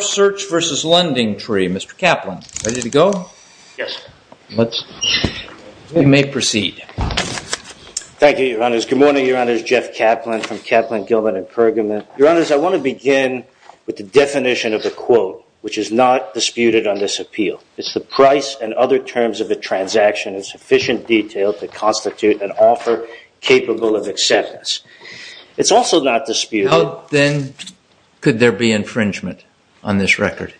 Search v. Lendingtree. Mr. Kaplan, ready to go? Yes. We may proceed. Thank you, Your Honors. Good morning, Your Honors. Jeff Kaplan from Kaplan, Gilman & Pergamon. Your Honors, I want to begin with the definition of the quote, which is not disputed on this appeal. It's the price and other terms of a transaction in sufficient detail to constitute an offer capable of acceptance. It's also not disputed... Then could there be infringement on this record?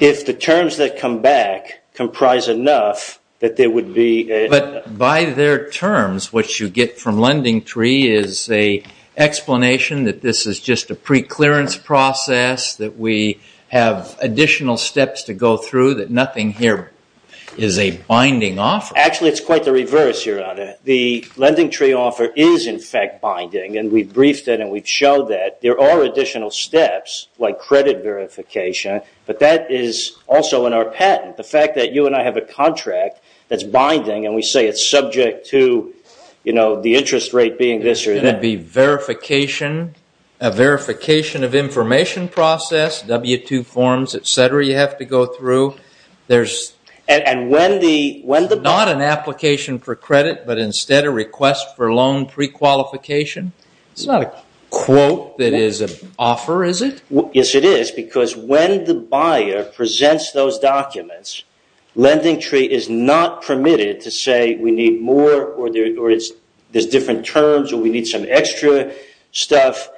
If the terms that come back comprise enough that there would be... But by their terms, what you get from Lendingtree is an explanation that this is just a preclearance process, that we have additional steps to go through, that nothing here is a binding offer. Actually, it's quite the reverse, Your Honor. The Lendingtree offer is, in fact, binding, and we've briefed it and we've showed that. There are additional steps, like credit verification, but that is also in our patent. The fact that you and I have a contract that's binding, and we say it's subject to, you know, the interest rate being this or that... There's going to be verification, a verification of information process, W-2 forms, et cetera, you have to go through. And when the... Not an application for credit, but instead a request for loan prequalification? It's not a quote that is an offer, is it? Yes, it is, because when the buyer presents those documents, Lendingtree is not permitted to say, we need more, or there's different terms, or we need some extra stuff.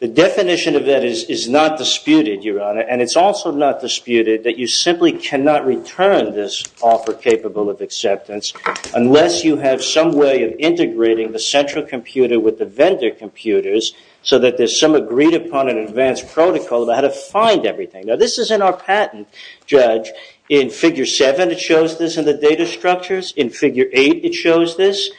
The definition of that is not disputed, Your Honor, and it's also not disputed that you simply cannot return this offer capable of acceptance unless you have some way of integrating the central computer with the vendor computers so that there's some agreed-upon and advanced protocol about how to find everything. Now, this is in our patent, Judge. In Figure 7, it shows this in the data structures. In Figure 8, it shows this.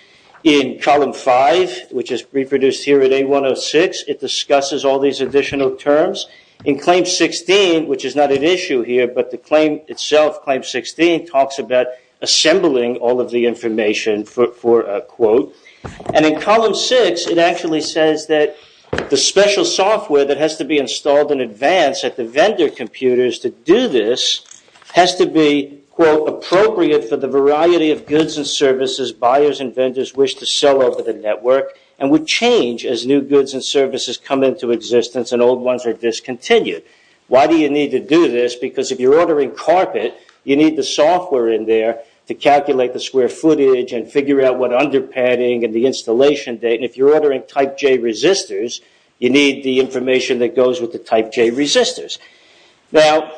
In Column 5, which is reproduced here at A106, it discusses all these additional terms. In Claim 16, which is not an issue here, but the claim itself, Claim 16, talks about assembling all of the information for a quote. And in Column 6, it actually says that the special software that has to be installed in advance at the vendor computers to do this has to be, quote, the quality of goods and services buyers and vendors wish to sell over the network and would change as new goods and services come into existence and old ones are discontinued. Why do you need to do this? Because if you're ordering carpet, you need the software in there to calculate the square footage and figure out what under padding and the installation date, and if you're ordering Type J resistors, you need the information that goes with the Type J resistors. Now,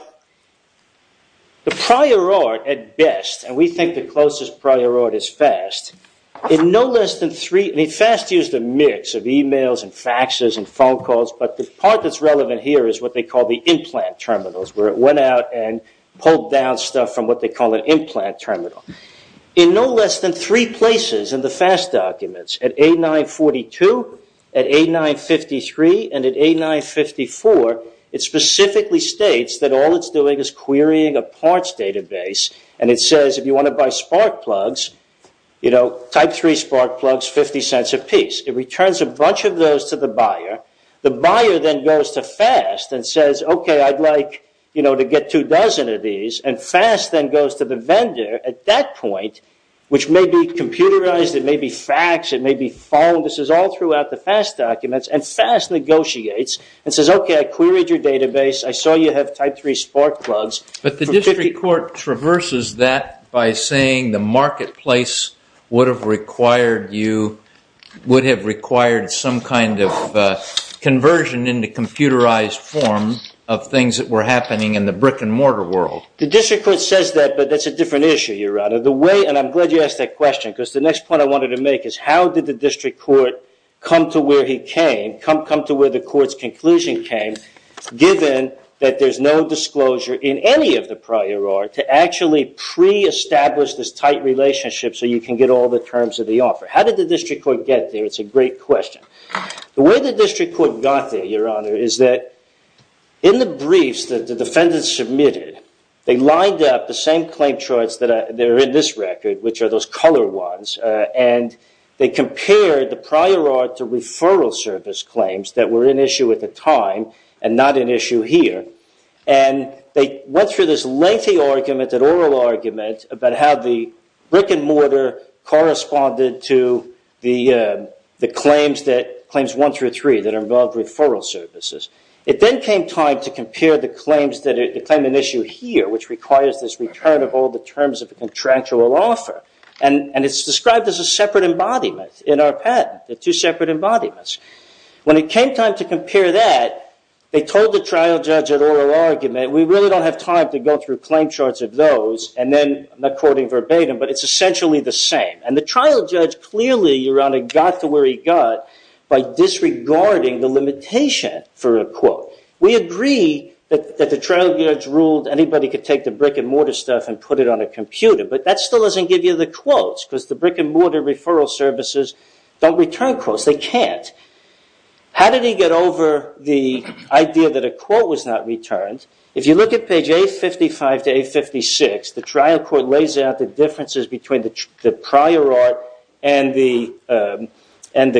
the prior art at best, and we think the closest prior art is FAST, in no less than three, and FAST used a mix of e-mails and faxes and phone calls, but the part that's relevant here is what they call the implant terminals, where it went out and pulled down stuff from what they call an implant terminal. In no less than three places in the FAST documents, at A942, at A953, and at A954, it specifically states that all it's doing is querying a parts database, and it says, if you want to buy spark plugs, you know, Type III spark plugs, 50 cents apiece. It returns a bunch of those to the buyer. The buyer then goes to FAST and says, okay, I'd like, you know, to get two dozen of these, and FAST then goes to the vendor at that point, which may be computerized, it may be faxed, it may be phoned, this is all throughout the FAST documents, and FAST negotiates and says, okay, I queried your database, I saw you have Type III spark plugs. But the district court traverses that by saying the marketplace would have required you, would have required some kind of conversion into computerized form of things that were happening in the brick-and-mortar world. The district court says that, but that's a different issue, Your Honor. The way, and I'm glad you asked that question, because the next point I wanted to make is, how did the district court come to where he came, come to where the court's conclusion came, given that there's no disclosure in any of the prior art to actually pre-establish this tight relationship so you can get all the terms of the offer? How did the district court get there? It's a great question. The way the district court got there, Your Honor, is that in the briefs that the defendants submitted, they lined up the same claim charts that are in this record, which are those colored ones, and they compared the prior art to referral service claims that were in issue at the time and not in issue here. And they went through this lengthy argument, that oral argument, about how the brick-and-mortar corresponded to the claims that, claims I through III, that involved referral services. It then came time to compare the claims that, the claim in issue here, which requires this return of all the terms of a contractual offer. And it's described as a separate embodiment in our patent. They're two separate embodiments. When it came time to compare that, they told the trial judge at oral argument, we really don't have time to go through claim charts of those, and then, I'm not quoting verbatim, but it's essentially the same. And the trial judge clearly, Your Honor, got to where he got by disregarding the limitation for a quote. We agree that the trial judge ruled anybody could take the brick-and-mortar stuff and put it on a computer. But that still doesn't give you the quotes, because the brick-and-mortar referral services don't return quotes. They can't. How did he get over the idea that a quote was not returned? If you look at page 855 to 856, the trial court lays out the differences between the prior art and the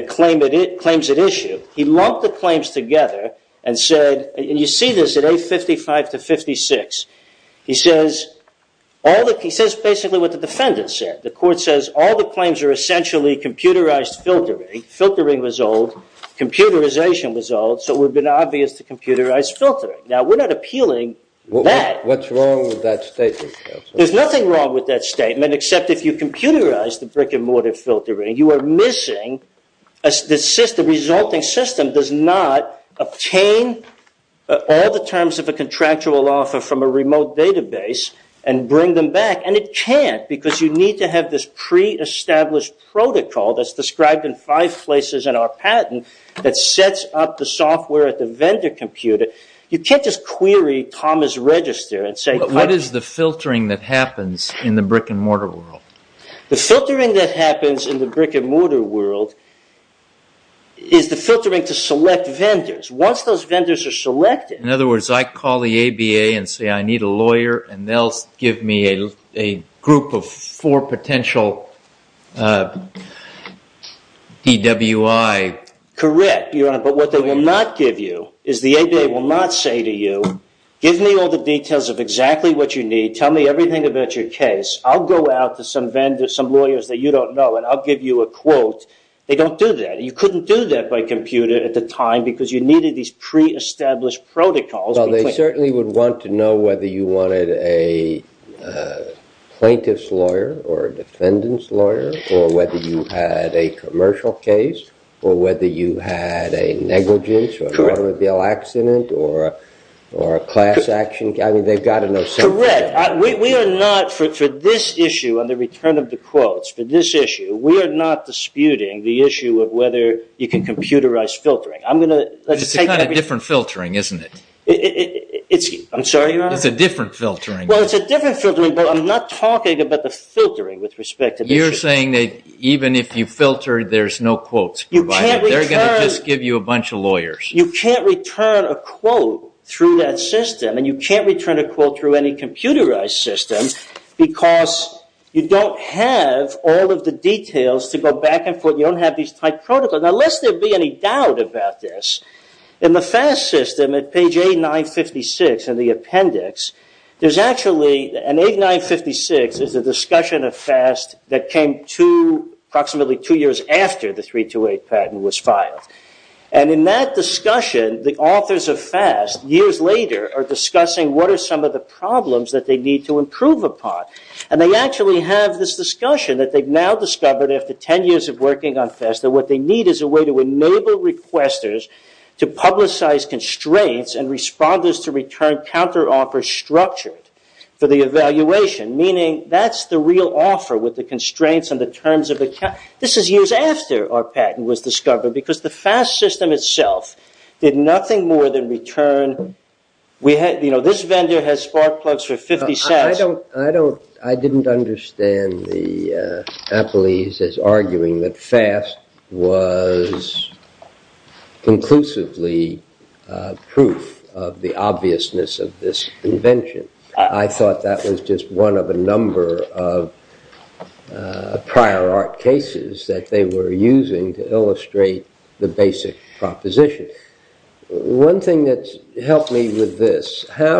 claims at issue. He lumped the claims together and said, and you see this at 855 to 856. He says basically what the defendant said. The court says all the claims are essentially computerized filtering. Filtering was old. Computerization was old, so it would have been obvious to computerize filtering. Now, we're not appealing that. What's wrong with that statement? There's nothing wrong with that statement, except if you computerize the brick-and-mortar filtering, you are missing the resulting system does not obtain all the terms of a contractual offer from a remote database and bring them back. And it can't, because you need to have this pre-established protocol that's described in five places in our patent that sets up the software at the vendor computer. You can't just query Thomas Register and say, What is the filtering that happens in the brick-and-mortar world? The filtering that happens in the brick-and-mortar world is the filtering to select vendors. Once those vendors are selected... In other words, I call the ABA and say I need a lawyer and they'll give me a group of four potential DWI. Correct. But what they will not give you is the ABA will not say to you, Give me all the details of exactly what you need. Tell me everything about your case. I'll go out to some lawyers that you don't know and I'll give you a quote. They don't do that. You couldn't do that by computer at the time because you needed these pre-established protocols. Well, they certainly would want to know whether you wanted a plaintiff's lawyer or a defendant's lawyer or whether you had a commercial case or whether you had a negligence or automobile accident or a class action. I mean, they've got to know something. Correct. We are not, for this issue on the return of the quotes, for this issue, we are not disputing the issue of whether you can computerize filtering. It's a kind of different filtering, isn't it? I'm sorry, Your Honor? It's a different filtering. Well, it's a different filtering, but I'm not talking about the filtering with respect to this issue. You're saying that even if you filter, there's no quotes provided. They're going to just give you a bunch of lawyers. You can't return a quote through that system and you can't return a quote through any computerized system because you don't have all of the details to go back and forth. You don't have these tight protocols. Now, lest there be any doubt about this, in the FAST system at page 8956 in the appendix, there's actually an 8956 is a discussion of FAST that came to approximately two years after the 328 patent was filed. And in that discussion, the authors of FAST years later are discussing what are some of the problems that they need to improve upon. And they actually have this discussion that they've now discovered after 10 years of working on FAST that what they need is a way to enable requesters to publicize constraints and responders to return counteroffers structured for the evaluation, meaning that's the real offer with the constraints and the terms of account. This is years after our patent was discovered because the FAST system itself did nothing more than return. This vendor has spark plugs for 50 cents. I didn't understand the appellees as arguing that FAST was conclusively proof of the obviousness of this invention. I thought that was just one of a number of prior art cases that they were using to illustrate the basic proposition. One thing that's helped me with this, I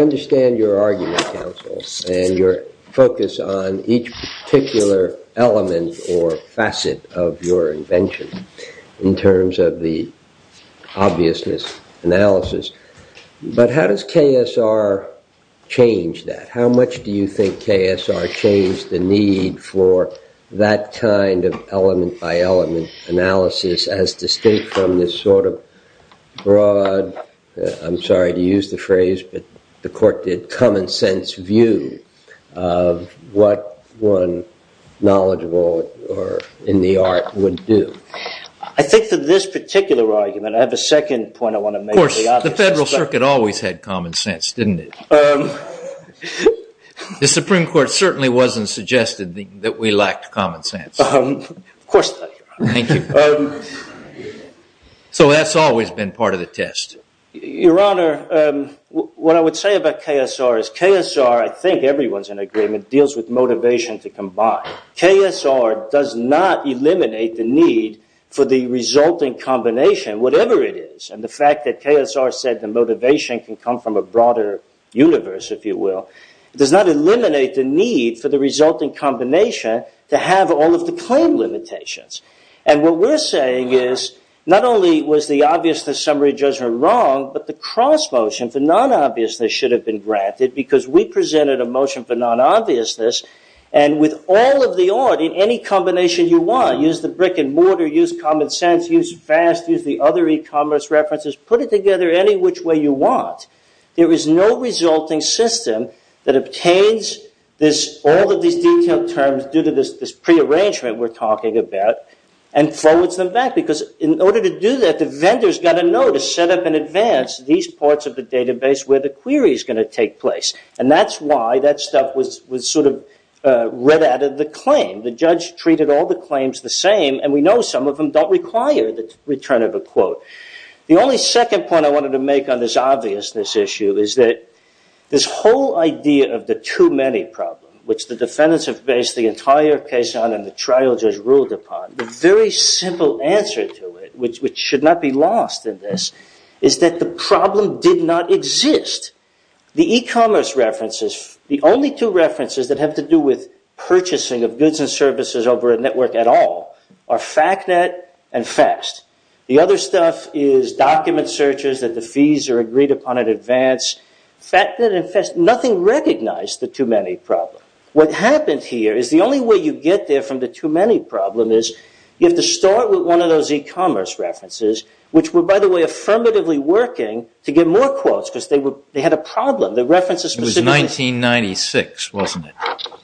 understand your argument, counsel, and your focus on each particular element or facet of your invention in terms of the obviousness analysis, but how does KSR change that? How much do you think KSR changed the need for that kind of element by element analysis as distinct from this sort of broad, I'm sorry to use the phrase, but the court did common sense view of what one knowledgeable or in the art would do? I think that this particular argument, I have a second point I want to make. Of course, the Federal Circuit always had common sense, didn't it? The Supreme Court certainly wasn't suggested that we lacked common sense. Of course not, Your Honor. Thank you. So that's always been part of the test. Your Honor, what I would say about KSR is KSR, I think everyone's in agreement, deals with motivation to combine. KSR does not eliminate the need for the resulting combination, whatever it is. And the fact that KSR said the motivation can come from a broader universe, if you will, does not eliminate the need for the resulting combination to have all of the claim limitations. And what we're saying is, not only was the obviousness summary judgment wrong, but the cross motion for non-obviousness should have been granted because we presented a motion for non-obviousness and with all of the art in any combination you want, use the brick and mortar, use common sense, use fast, use the other e-commerce references, put it together any which way you want. There is no resulting system that obtains all of these detailed terms due to this prearrangement we're talking about and forwards them back. Because in order to do that, the vendor's got to know to set up in advance these parts of the database where the query's going to take place. And that's why that stuff was sort of read out of the claim. The judge treated all the claims the same, and we know some of them don't require the return of a quote. The only second point I wanted to make on this obviousness issue is that this whole idea of the too many problem, which the defendants have based the entire case on and the trial judge ruled upon, the very simple answer to it, which should not be lost in this, is that the problem did not exist. The e-commerce references, the only two references that have to do with purchasing of goods and services over a network at all are FACNET and FAST. The other stuff is document searches that the fees are agreed upon in advance. FACNET and FAST, nothing recognized the too many problem. What happened here is the only way you get there from the too many problem is you have to start with one of those e-commerce references, which were, by the way, affirmatively working to get more quotes because they had a problem. It was 1996, wasn't it?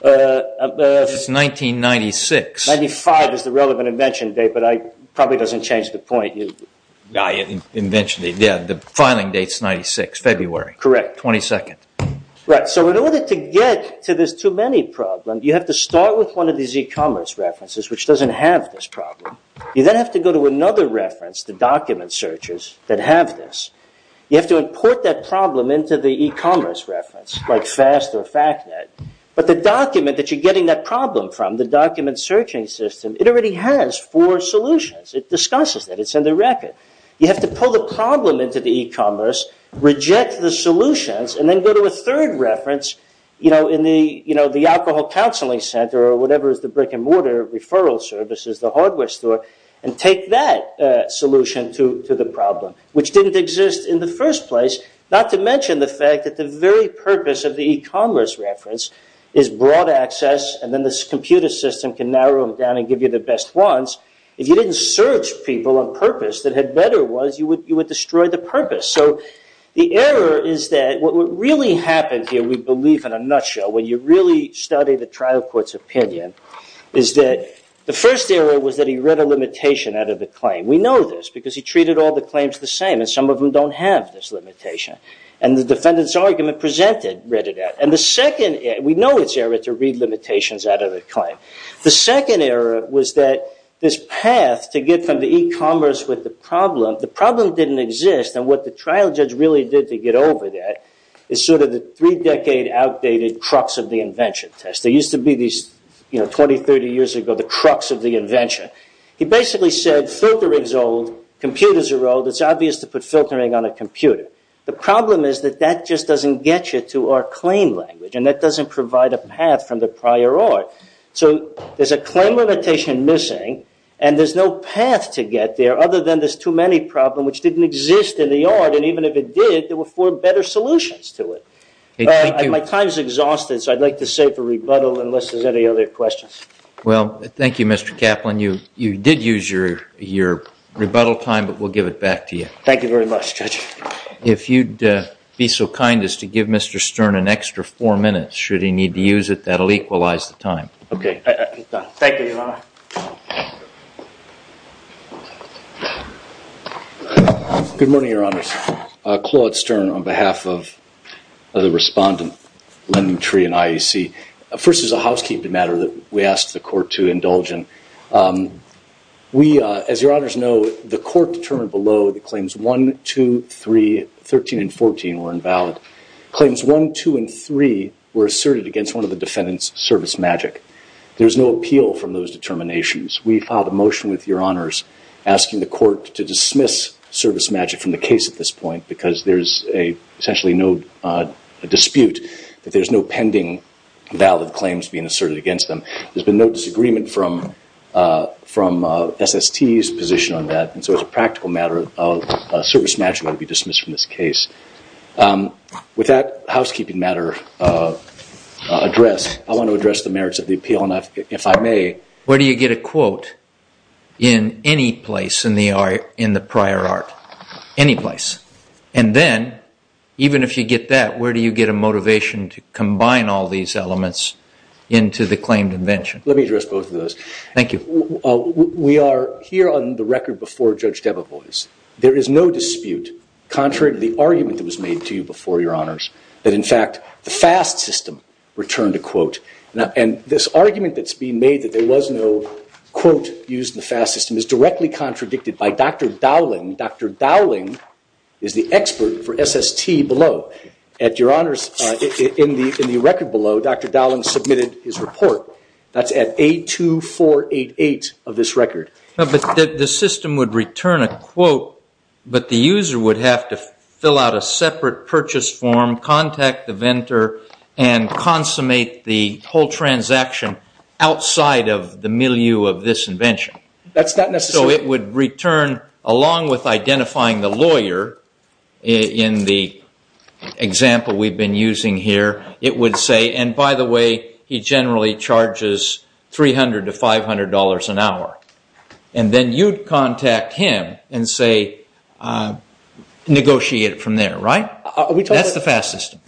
It was 1996. 95 is the relevant invention date, but it probably doesn't change the point. The filing date is 96, February 22nd. So in order to get to this too many problem, you have to start with one of these e-commerce references, which doesn't have this problem. You then have to go to another reference, the document searches that have this. You have to import that problem into the e-commerce reference, like FAST or FACNET, but the document that you're getting that problem from, the document searching system, it already has four solutions. It discusses that. It's in the record. You have to pull the problem into the e-commerce, reject the solutions, and then go to a third reference in the alcohol counseling center or whatever is the brick and mortar referral services, the hardware store, and take that solution to the problem, which didn't exist in the first place, not to mention the fact that the very purpose of the e-commerce reference is broad access and then this computer system can narrow it down and give you the best ones. If you didn't search people on purpose that had better ones, you would destroy the purpose. So the error is that what really happened here, we believe in a nutshell, when you really study the trial court's opinion, is that the first error was that he read a limitation out of the claim. We know this because he treated all the claims the same, and some of them don't have this limitation. And the defendant's argument presented read it out. We know it's error to read limitations out of a claim. The second error was that this path to get from the e-commerce with the problem, the problem didn't exist, and what the trial judge really did to get over that is sort of the three-decade outdated crux of the invention test. There used to be these 20, 30 years ago, the crux of the invention. He basically said filtering's old, computers are old, it's obvious to put filtering on a computer. The problem is that that just doesn't get you to our claim language, and that doesn't provide a path from the prior art. So there's a claim limitation missing, and there's no path to get there other than this too-many problem which didn't exist in the art, and even if it did, there were four better solutions to it. My time's exhausted, so I'd like to save for rebuttal unless there's any other questions. Well, thank you, Mr. Kaplan. You did use your rebuttal time, but we'll give it back to you. Thank you very much, Judge. If you'd be so kind as to give Mr. Stern an extra four minutes, should he need to use it, that'll equalize the time. Okay. Thank you, Your Honor. Good morning, Your Honors. Claude Stern on behalf of the respondent, Lyndon Tree and IEC. First, there's a housekeeping matter that we asked the court to indulge in. As Your Honors know, the court determined below that Claims 1, 2, 3, 13, and 14 were invalid. Claims 1, 2, and 3 were asserted against one of the defendants' service magic. There's no appeal from those determinations. We filed a motion with Your Honors asking the court to dismiss service magic from the case at this point because there's essentially no dispute that there's no pending valid claims being asserted against them. There's been no disagreement from SST's position on that, and so as a practical matter, service magic will be dismissed from this case. With that housekeeping matter addressed, I want to address the merits of the appeal, and if I may... Where do you get a quote in any place in the prior art? Any place. And then, even if you get that, where do you get a motivation to combine all these elements into the claimed invention? Let me address both of those. Thank you. We are here on the record before Judge Debevoise. There is no dispute contrary to the argument that was made to you before, Your Honors, that, in fact, the FAST system returned a quote. And this argument that's being made that there was no quote used in the FAST system is directly contradicted by Dr. Dowling. Dr. Dowling is the expert for SST below. At Your Honors, in the record below, Dr. Dowling submitted his report. That's at A2488 of this record. But the system would return a quote, but the user would have to fill out a separate purchase form, contact the vendor, and consummate the whole transaction outside of the milieu of this invention. That's not necessary. So it would return, along with identifying the lawyer, in the example we've been using here, it would say, and by the way, he generally charges $300 to $500 an hour. And then you'd contact him and say, negotiate it from there, right? That's the FAST system.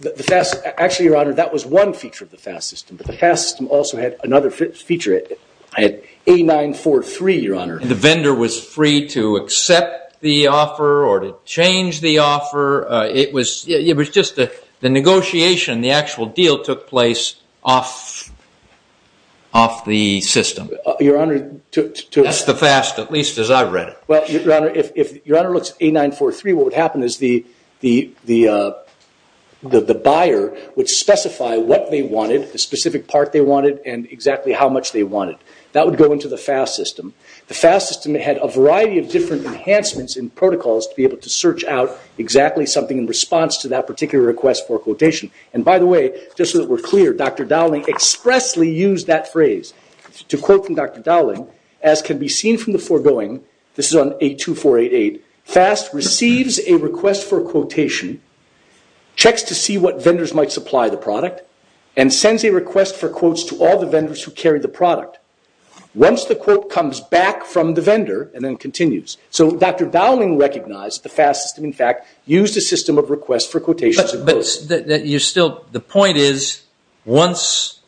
Actually, Your Honor, that was one feature of the FAST system, but the FAST system also had another feature. It had A943, Your Honor. The vendor was free to accept the offer or to change the offer. It was just the negotiation, the actual deal took place off the system. That's the FAST, at least as I read it. Well, Your Honor, if Your Honor looks at A943, what would happen is the buyer would specify what they wanted, the specific part they wanted, and exactly how much they wanted. That would go into the FAST system. The FAST system had a variety of different enhancements and protocols to be able to search out exactly something in response to that particular request for a quotation. And by the way, just so that we're clear, Dr. Dowling expressly used that phrase. To quote from Dr. Dowling, as can be seen from the foregoing, this is on A2488, FAST receives a request for a quotation, checks to see what vendors might supply the product, and sends a request for quotes to all the vendors who carry the product. Once the quote comes back from the vendor, and then continues. So Dr. Dowling recognized the FAST system, and in fact used a system of requests for quotations and quotes. The point is once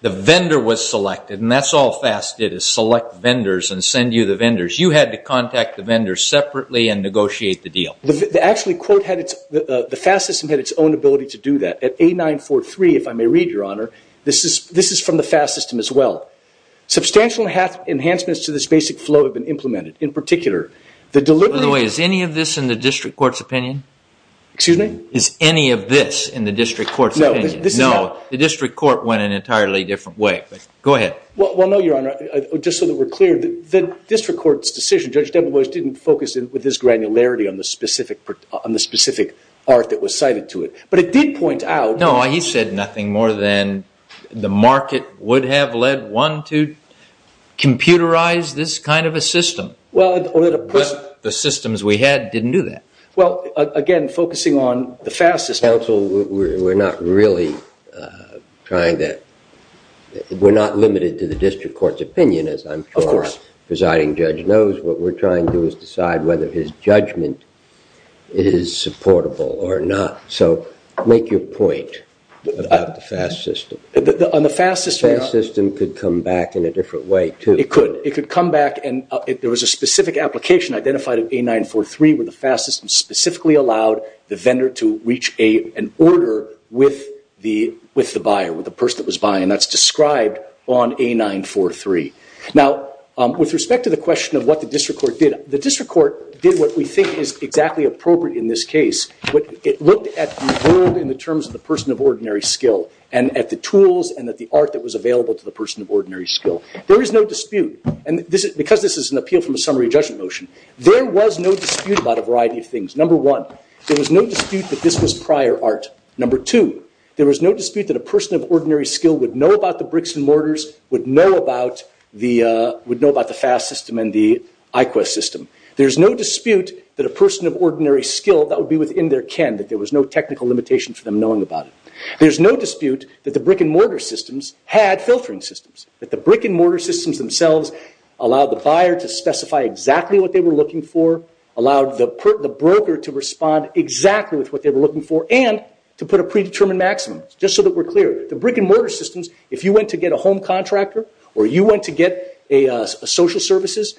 the vendor was selected, and that's all FAST did is select vendors and send you the vendors, you had to contact the vendors separately and negotiate the deal. Actually, the FAST system had its own ability to do that. At A943, if I may read, Your Honor, this is from the FAST system as well. Substantial enhancements to this basic flow have been implemented in particular. By the way, is any of this in the district court's opinion? Excuse me? Is any of this in the district court's opinion? No. The district court went an entirely different way. Go ahead. Well, no, Your Honor. Just so that we're clear, the district court's decision, Judge Debeboise, didn't focus with this granularity on the specific art that was cited to it. But it did point out... No, he said nothing more than the market would have led one to computerize this kind of a system. But the systems we had didn't do that. Well, again, focusing on the FAST system... Counsel, we're not really trying to... We're not limited to the district court's opinion, as I'm sure the presiding judge knows. What we're trying to do is decide whether his judgment is supportable or not. So make your point about the FAST system. On the FAST system... The FAST system could come back in a different way, too. It could. It could come back... There was a specific application identified at A943 where the FAST system specifically allowed the vendor to reach an order with the buyer, with the person that was buying. That's described on A943. Now, with respect to the question of what the district court did, the district court did what we think is exactly appropriate in this case. It looked at the world in the terms of the person of ordinary skill and at the tools and at the art that was available to the person of ordinary skill. There is no dispute. And because this is an appeal from a summary judgment motion, there was no dispute about a variety of things. Number one, there was no dispute that this was prior art. Number two, there was no dispute that a person of ordinary skill would know about the bricks and mortars, would know about the FAST system and the IQEST system. There's no dispute that a person of ordinary skill, that would be within their ken, that there was no technical limitation for them knowing about it. There's no dispute that the brick and mortar systems had filtering systems, that the brick and mortar systems themselves allowed the buyer to specify exactly what they were looking for, allowed the broker to respond exactly with what they were looking for, and to put a predetermined maximum. Just so that we're clear, the brick and mortar systems, if you went to get a home contractor or you went to get a social services,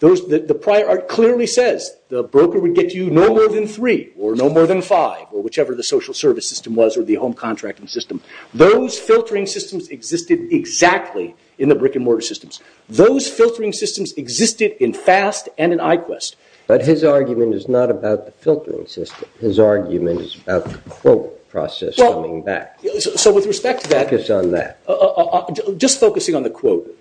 the prior art clearly says the broker would get you no more than three or no more than five, or whichever the social service system was or the home contracting system. Those filtering systems existed exactly in the brick and mortar systems. Those filtering systems existed in FAST and in IQEST. But his argument is not about the filtering system. His argument is about the quote process coming back. So with respect to that... Focus on that. Just focusing on the quote.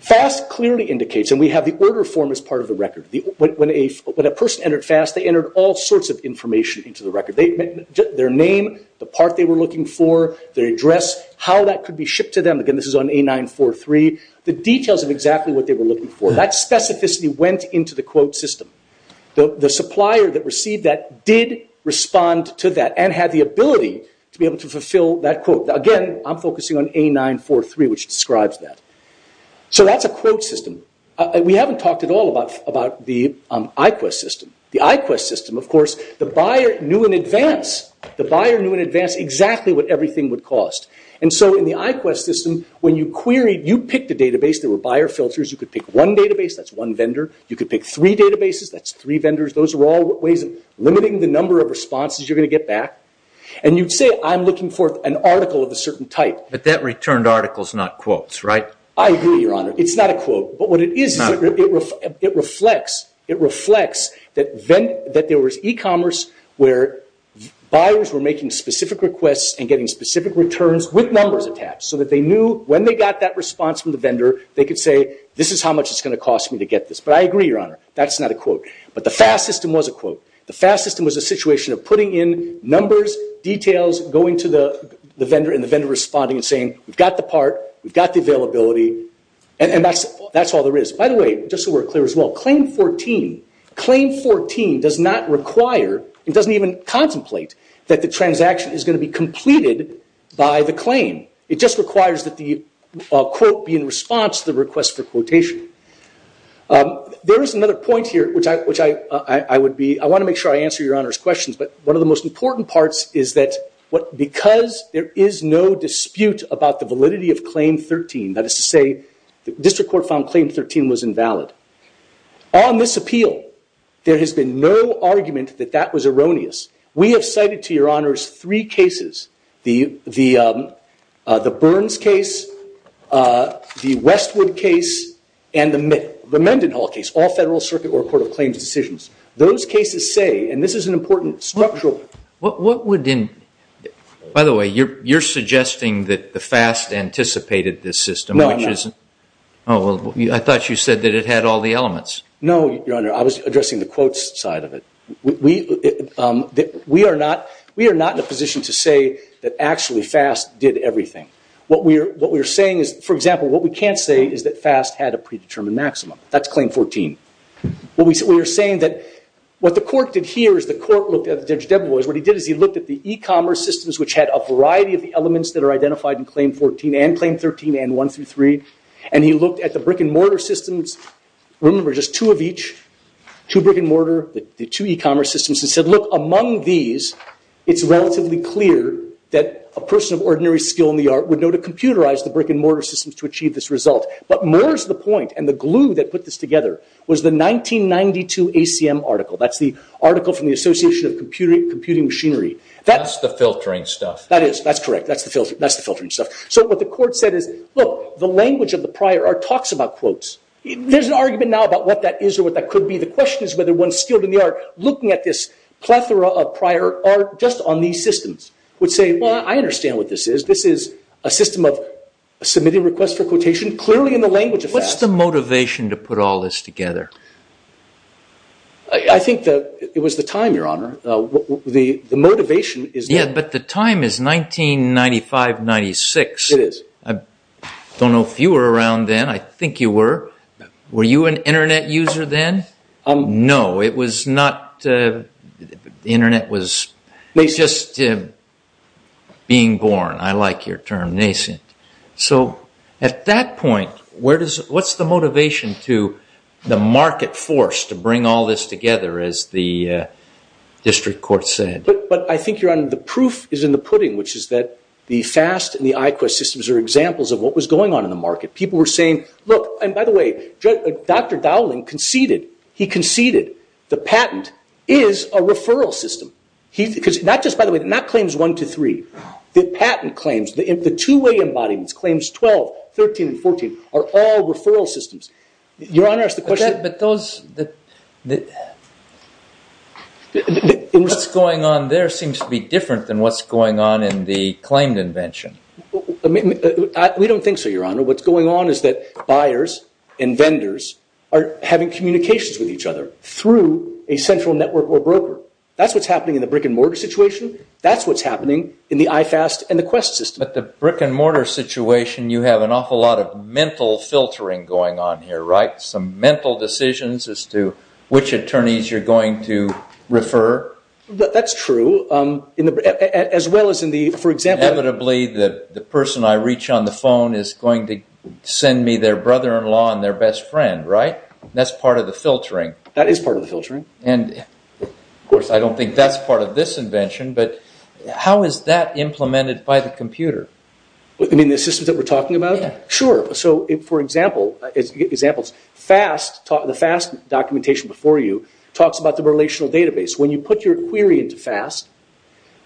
FAST clearly indicates, and we have the order form as part of the record. When a person entered FAST, they entered all sorts of information into the record. Their name, the part they were looking for, their address, how that could be shipped to them. Again, this is on A943. The details of exactly what they were looking for. That specificity went into the quote system. The supplier that received that did respond to that and had the ability to be able to fulfill that quote. Again, I'm focusing on A943, which describes that. So that's a quote system. We haven't talked at all about the IQEST system. The IQEST system, of course, the buyer knew in advance. The buyer knew in advance exactly what everything would cost. In the IQEST system, when you queried, you picked a database. There were buyer filters. You could pick one database. That's one vendor. You could pick three databases. That's three vendors. Those are all ways of limiting the number of responses you're going to get back. You'd say, I'm looking for an article of a certain type. But that returned article is not quotes, right? I agree, Your Honor. It's not a quote. But what it is, it reflects that there was e-commerce where buyers were making specific requests and getting specific returns with numbers attached so that they knew when they got that response from the vendor, they could say, this is how much it's going to cost me to get this. But I agree, Your Honor. That's not a quote. But the FAS system was a quote. The FAS system was a situation of putting in numbers, details, going to the vendor and the vendor responding and saying, we've got the part, we've got the availability, and that's all there is. By the way, just so we're clear as well, Claim 14 does not require, it doesn't even contemplate, that the transaction is going to be completed by the claim. It just requires that the quote be in response to the request for quotation. There is another point here which I would be, I want to make sure I answer Your Honor's questions, but one of the most important parts is that because there is no dispute about the validity of Claim 13, that is to say, the District Court found Claim 13 was invalid. On this appeal, there has been no argument that that was erroneous. We have cited to Your Honor's three cases, the Burns case, the Westwood case, and the Mendenhall case, all Federal Circuit or Court of Claims decisions. Those cases say, and this is an important structural... What would... you're suggesting that the FAST anticipated this system, which is... No, I'm not. I thought you said that it had all the elements. No, Your Honor, I was addressing the quotes side of it. We are not in a position to say that actually FAST did everything. What we are saying is, for example, what we can't say is that FAST had a predetermined maximum. That's Claim 14. We are saying that what the court did here is the court looked at what he did is he looked at the e-commerce systems, which had a variety of the elements that are identified in Claim 14 and Claim 13 and 1 through 3, and he looked at the brick-and-mortar systems. Remember, just two of each, two brick-and-mortar, the two e-commerce systems, and said, look, among these, it's relatively clear that a person of ordinary skill in the art would know to computerize the brick-and-mortar systems to achieve this result. But more is the point, and the glue that put this together was the 1992 ACM article. That's the article from the Association of Computing Machinery. That's the filtering stuff. That is. That's correct. That's the filtering stuff. So what the court said is, look, the language of the prior are talks about quotes. There's an argument now about what that is or what that could be. The question is whether one's skilled in the art looking at this plethora of prior art just on these systems would say, well, I understand what this is. This is a system of submitting requests for quotation clearly in the language of facts. What's the motivation to put all this together? I think it was the time, Your Honor. The motivation is there. Yeah, but the time is 1995-96. It is. I don't know if you were around then. I think you were. Were you an Internet user then? No, it was not. The Internet was just being born. I like your term, nascent. So at that point, what's the motivation to the market force to bring all this together as the district court said? But I think, Your Honor, the proof is in the pudding, which is that the FAST and the IQEST systems are examples of what was going on in the market. People were saying, look, and by the way, Dr. Dowling conceded, he conceded the patent is a referral system. Not just by the way, not claims one to three. The patent claims, the two-way embodiments, claims 12, 13, and 14 are all referral systems. Your Honor, that's the question. But those... seems to be different than what's going on in the claimed invention. We don't think so, Your Honor. What's going on is that buyers and vendors are having communications with each other through a central network or broker. That's what's happening in the brick-and-mortar situation. That's what's happening in the IFAST and the IQEST system. But the brick-and-mortar situation, you have an awful lot of mental filtering going on here, right? Some mental decisions as to which attorneys you're going to refer? That's true. As well as in the... For example... Inevitably, the person I reach on the phone is going to send me their brother-in-law and their best friend, right? That's part of the filtering. That is part of the filtering. Of course, I don't think that's part of this invention, but how is that implemented by the computer? You mean the systems that we're talking about? Yeah. Sure. For example, the FAST documentation before you talks about the relational database. When you put your query into FAST,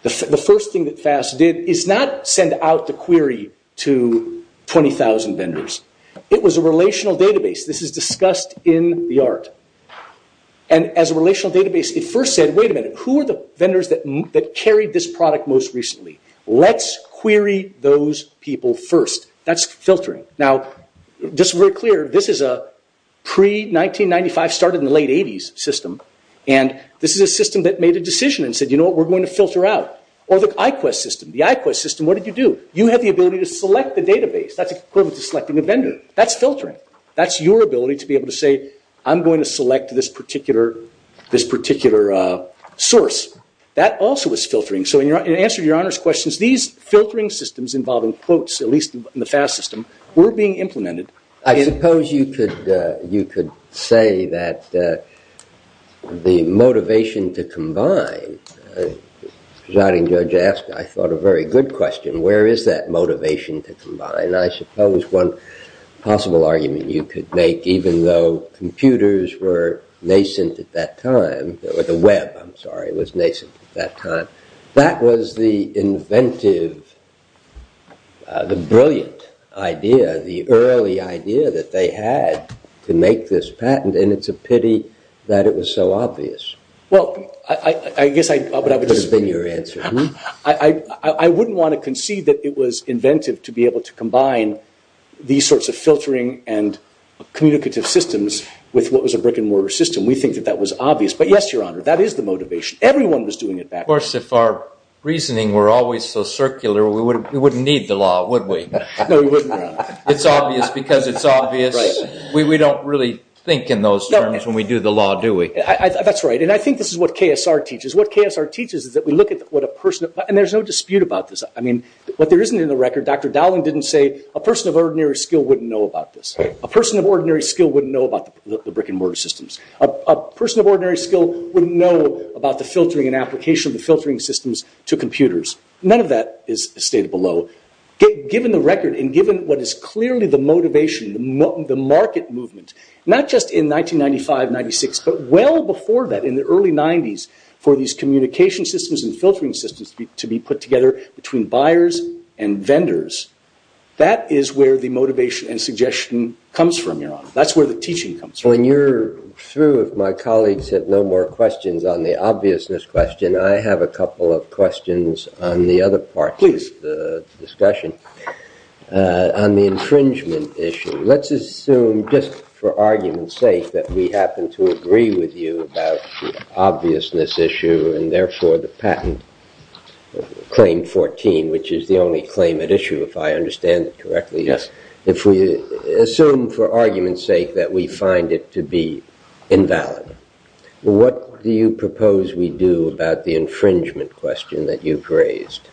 the first thing that FAST did is not send out the query to 20,000 vendors. It was a relational database. This is discussed in the art. And as a relational database, it first said, wait a minute, who are the vendors that carried this product most recently? Let's query those people first. That's filtering. Now, just to be clear, this is a pre-1995, started in the late 80s system, and this is a system that made a decision and said, you know what, we're going to filter out. Or the IQEST system. The IQEST system, what did you do? You have the ability to select the database. That's equivalent to selecting a vendor. That's filtering. That's your ability to be able to say, I'm going to select this particular source. That also is filtering. So in answer to your honors questions, these filtering systems involving quotes, at least in the FAST system, were being implemented. I suppose you could say that the motivation to combine, residing judge asked, I thought a very good question, where is that motivation to combine? I suppose one possible argument you could make, even though computers were nascent at that time, or the web, I'm sorry, was nascent at that time. That was the inventive, the brilliant idea, the early idea that they had to make this patent, and it's a pity that it was so obvious. Well, I guess I, I wouldn't want to concede that it was inventive to be able to combine these sorts of filtering and communicative systems with what was a brick and mortar system. We think that that was obvious. But yes, your honor, that is the motivation. Everyone was doing it back then. Of course, if our reasoning were always so circular, we wouldn't need the law, would we? No, we wouldn't, your honor. It's obvious because it's obvious. We don't really think in those terms when we do the law, do we? That's right, and I think this is what KSR teaches. What KSR teaches is that we look at what a person, and there's no dispute about this. I mean, what there isn't in the record, Dr. Dowling didn't say a person of ordinary skill wouldn't know about this. A person of ordinary skill wouldn't know about the brick and mortar systems. A person of ordinary skill wouldn't know about the filtering and application of the filtering systems to computers. None of that is stated below. Given the record and given what is clearly the motivation, the market movement, not just in 1995, 96, but well before that in the early 90s for these communication systems and filtering systems to be put together between buyers and vendors, that is where the motivation and suggestion comes from, Your Honor. That's where the teaching comes from. When you're through, if my colleagues have no more questions on the obviousness question, I have a couple of questions on the other part of the discussion. Please. On the infringement issue, let's assume just for argument's sake that we happen to agree with you about the obviousness issue and therefore the patent, Claim 14, which is the only claim at issue, if I understand it correctly. Yes. If we assume for argument's sake that we find it to be invalid, what do you propose we do about the infringement question that you've raised?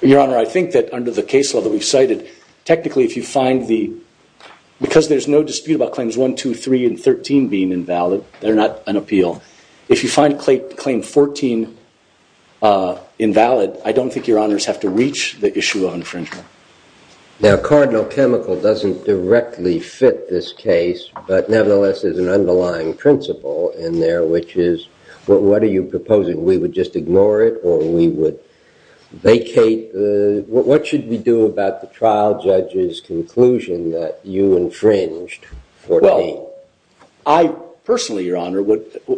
Your Honor, I think that under the case law that we've cited, technically if you find the, because there's no dispute about Claims 1, 2, 3, and 13 being invalid, they're not an appeal. If you find Claim 14 invalid, I don't think your Honors have to reach the issue of infringement. Now, cardinal chemical doesn't directly fit this case, but nevertheless there's an underlying principle in there, which is, what are you proposing? We would just ignore it or we would vacate the, what should we do about the trial judge's conclusion that you infringed 14? Well, I personally, your Honor,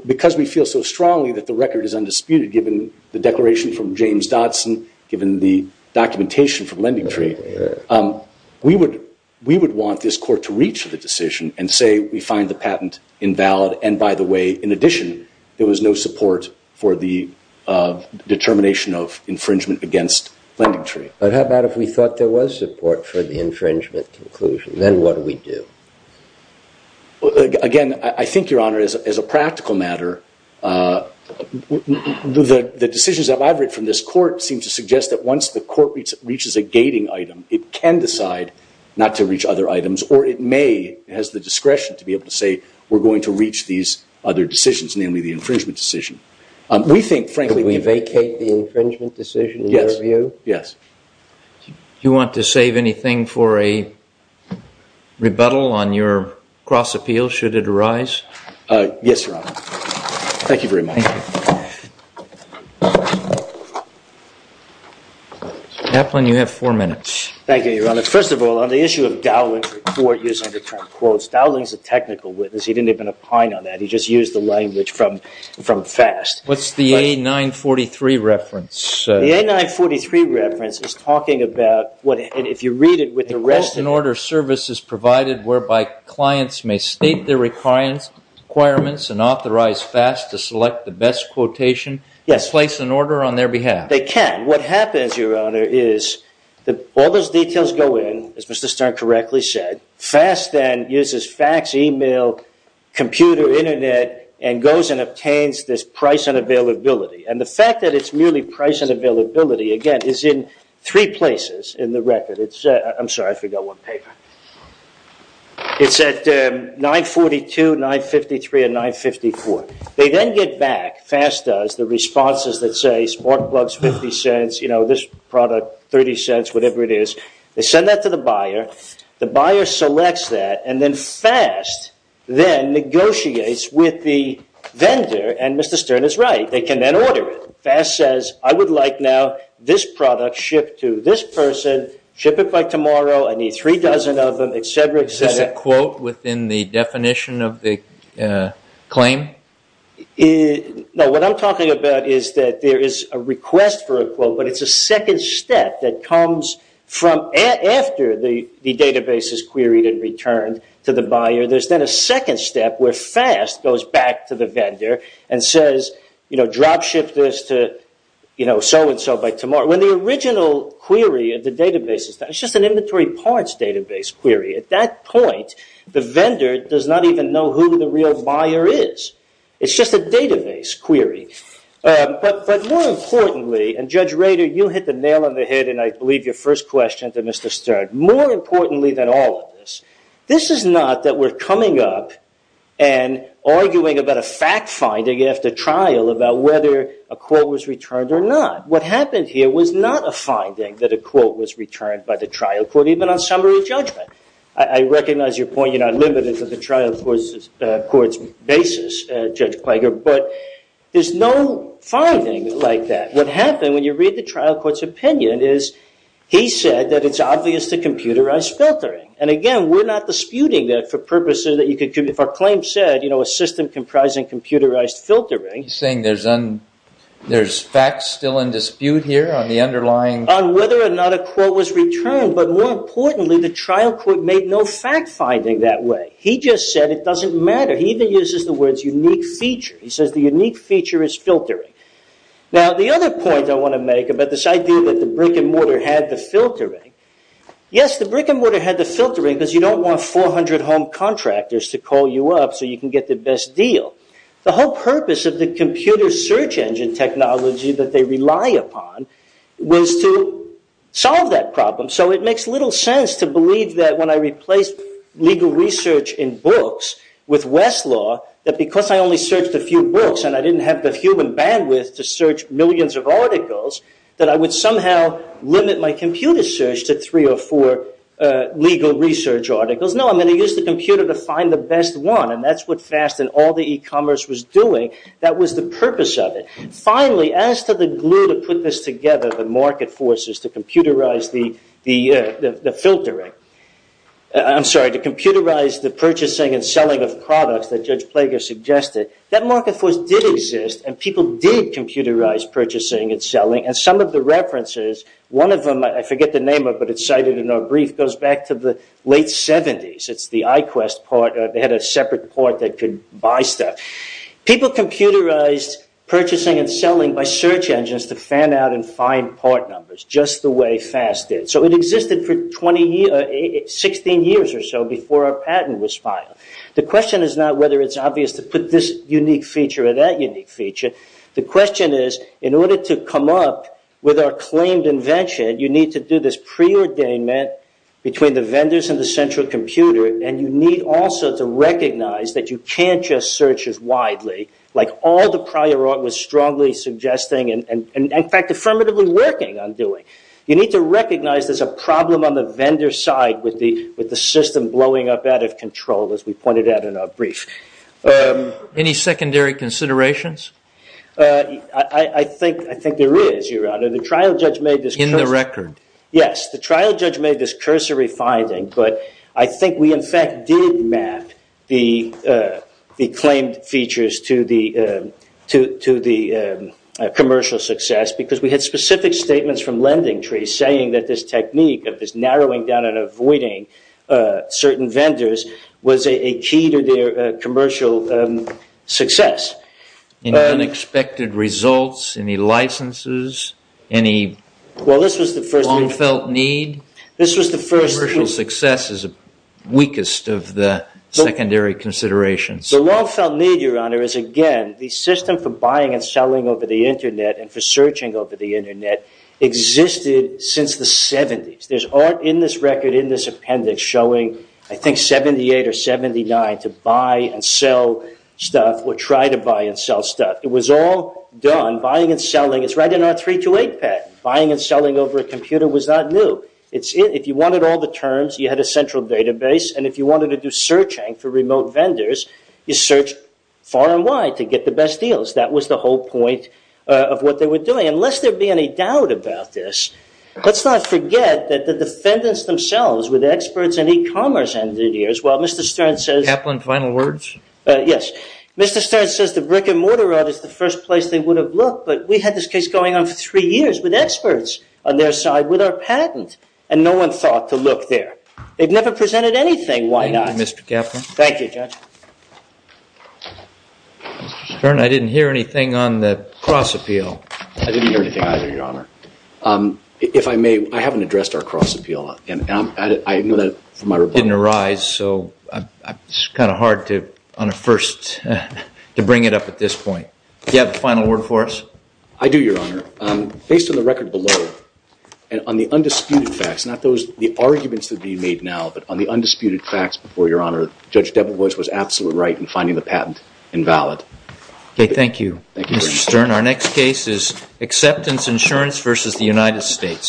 because we feel so strongly that the record is undisputed given the declaration from James Dodson, given the documentation from LendingTree, we would want this court to reach the decision and say we find the patent invalid and by the way, in addition, there was no support for the determination of infringement against LendingTree. But how about if we thought there was support for the infringement conclusion, then what do we do? Again, I think, your Honor, as a practical matter, the decisions that I've read from this court seem to suggest that once the court reaches a gating item, it can decide not to reach other items or it may, it has the discretion to be able to say we're going to reach these other decisions, namely the infringement decision. We think, frankly... Could we vacate the infringement decision in your view? Yes. Do you want to save anything for a rebuttal on your cross-appeal should it arise? Yes, your Honor. Thank you very much. Kaplan, you have four minutes. Thank you, your Honor. First of all, on the issue of Dowling's report using the term quotes, Dowling's a technical witness. He didn't even opine on that. He just used the language from FAST. What's the A943 reference? The A943 reference is talking about what, if you read it, with the rest... A quote and order service is provided whereby clients may state their requirements and authorize FAST to select the best quotation and place an order on their behalf. They can. What happens, your Honor, is all those details go in, as Mr. Stern correctly said, FAST then uses fax, email, computer, internet, and goes and obtains this price and availability. And the fact that it's merely price and availability, again, is in three places in the record. I'm sorry. I forgot one paper. It's at 942, 953, and 954. They then get back, FAST does, the responses that say, spark plugs, 50 cents, this product, 30 cents, whatever it is. They send that to the buyer. The buyer selects that, and then FAST then negotiates with the vendor, and Mr. Stern is right. They can then order it. FAST says, I would like now this product shipped to this person, ship it by tomorrow, I need three dozen of them, et cetera, et cetera. Is this a quote within the definition of the claim? No. What I'm talking about is that there is a request for a quote, but it's a second step that comes from after the database is queried and returned to the buyer. There's then a second step where FAST goes back to the vendor and says, drop ship this to so and so by tomorrow. When the original query of the database is done, it's just an inventory parts database query. At that point, the vendor does not even know who the real buyer is. It's just a database query. But more importantly, and Judge Rader, you hit the nail on the head and I believe your first question to Mr. Stern. More importantly than all of this, this is not that we're coming up and arguing about a fact finding after trial about whether a quote was returned or not. What happened here was that there was not a finding that a quote was returned by the trial court even on summary judgment. I recognize your point. You're not limited to the trial court's basis, Judge Clager. But there's no finding like that. What happened when you read the trial court's opinion is he said that it's obvious to computerized filtering. And again, we're not disputing that for purposes that you could proclaim said a system comprising computerized filtering. You're saying there's facts still in dispute here on the underlying on whether or not a quote was returned. But more importantly, the trial court made no fact finding that way. He just said it doesn't matter. He even uses the words unique feature. He says the unique feature is filtering. Now the other point I want to make about this idea that the brick and mortar had the filtering. Yes, the brick and mortar had the filtering because you don't want 400 home contractors to call you up so you can get the best deal. The whole purpose of the computer search engine technology that they rely upon was to solve that problem. So it makes little sense to believe that when I replaced legal research in books with Westlaw that because I only searched a few books and I didn't have the human bandwidth to search millions of articles that I would somehow limit my computer search to three or four legal research articles. No, I'm going to use the computer to find the best one and that's what Fast and all the e-commerce was doing. That was the purpose of it. Finally, as to the glue to put this together, the market forces to computerize the filtering, I'm sorry, to computerize the purchasing and selling of products that Judge Plager suggested, that market force did exist and people did computerize purchasing and selling and some of the references, one of them, I forget the name of it but it's cited in our brief, goes back to the late 70s. It's the iQuest part. They had a separate part that could buy stuff. People computerized purchasing and selling by search engines to fan out and find part numbers just the way Fast did. It existed for 16 years or so before our patent was filed. The question is not whether it's obvious to put this unique feature or that unique feature. The question is in order to come up with our claimed invention, you need to do this preordainment between the vendors and the central computer and you need also to recognize that you can't just search as widely like all the prior art was strong strongly suggesting and in fact affirmatively working on doing. You need to recognize there's a problem on the vendor side with the system blowing up out of control as we pointed out in our brief. Any secondary considerations? I think there is, Your Honor. The trial judge made this In the record? Yes. The trial judge made this cursory finding but I think we in fact did map the claimed features to the commercial success because we had specific statements from lending trees saying that this technique of this narrowing down and avoiding certain vendors was a key to their commercial success. Any unexpected results? Any licenses? Any Well this was the first Long felt need? This was the first Commercial success is weakest of the secondary considerations. The long felt need, Your Honor, is again the system for buying and selling over the internet and for searching over the internet existed since the 70s. There's art in this record in this appendix showing I think 78 or 79 to buy and sell stuff or try to buy and sell stuff. It was all done buying and selling it's right in our 328 patent. Buying and selling over a computer was not new. If you wanted all the terms you had a central database and if you wanted to do searching for remote vendors, you search far and wide to get the best deals. That was the whole point of what they were doing. Unless there be any doubt about this, let's not forget that the defendants themselves with experts in e-commerce ended here as well. Mr. Stern says Kaplan Final Words? Yes. Mr. Stern says the brick and mortar audit is the first place they would have looked but we had this case going on for three years with experts on their side with our patent and no one thought to look there. They've never presented anything. Why not? Thank you Judge. Mr. Stern, I didn't hear anything on the cross appeal. I didn't hear anything either, Your Honor. If I may, I haven't addressed our cross appeal. It didn't arise so it's kind of hard to bring it up at this point. Do you have a final word for us? I do, Your Honor. Based on the record and on the undisputed facts, not the arguments being made now, but on the undisputed facts, Judge Debel was absolutely right in finding the patent invalid. Thank you, Mr. Stern. Our next case is Acceptance Insurance v. United States.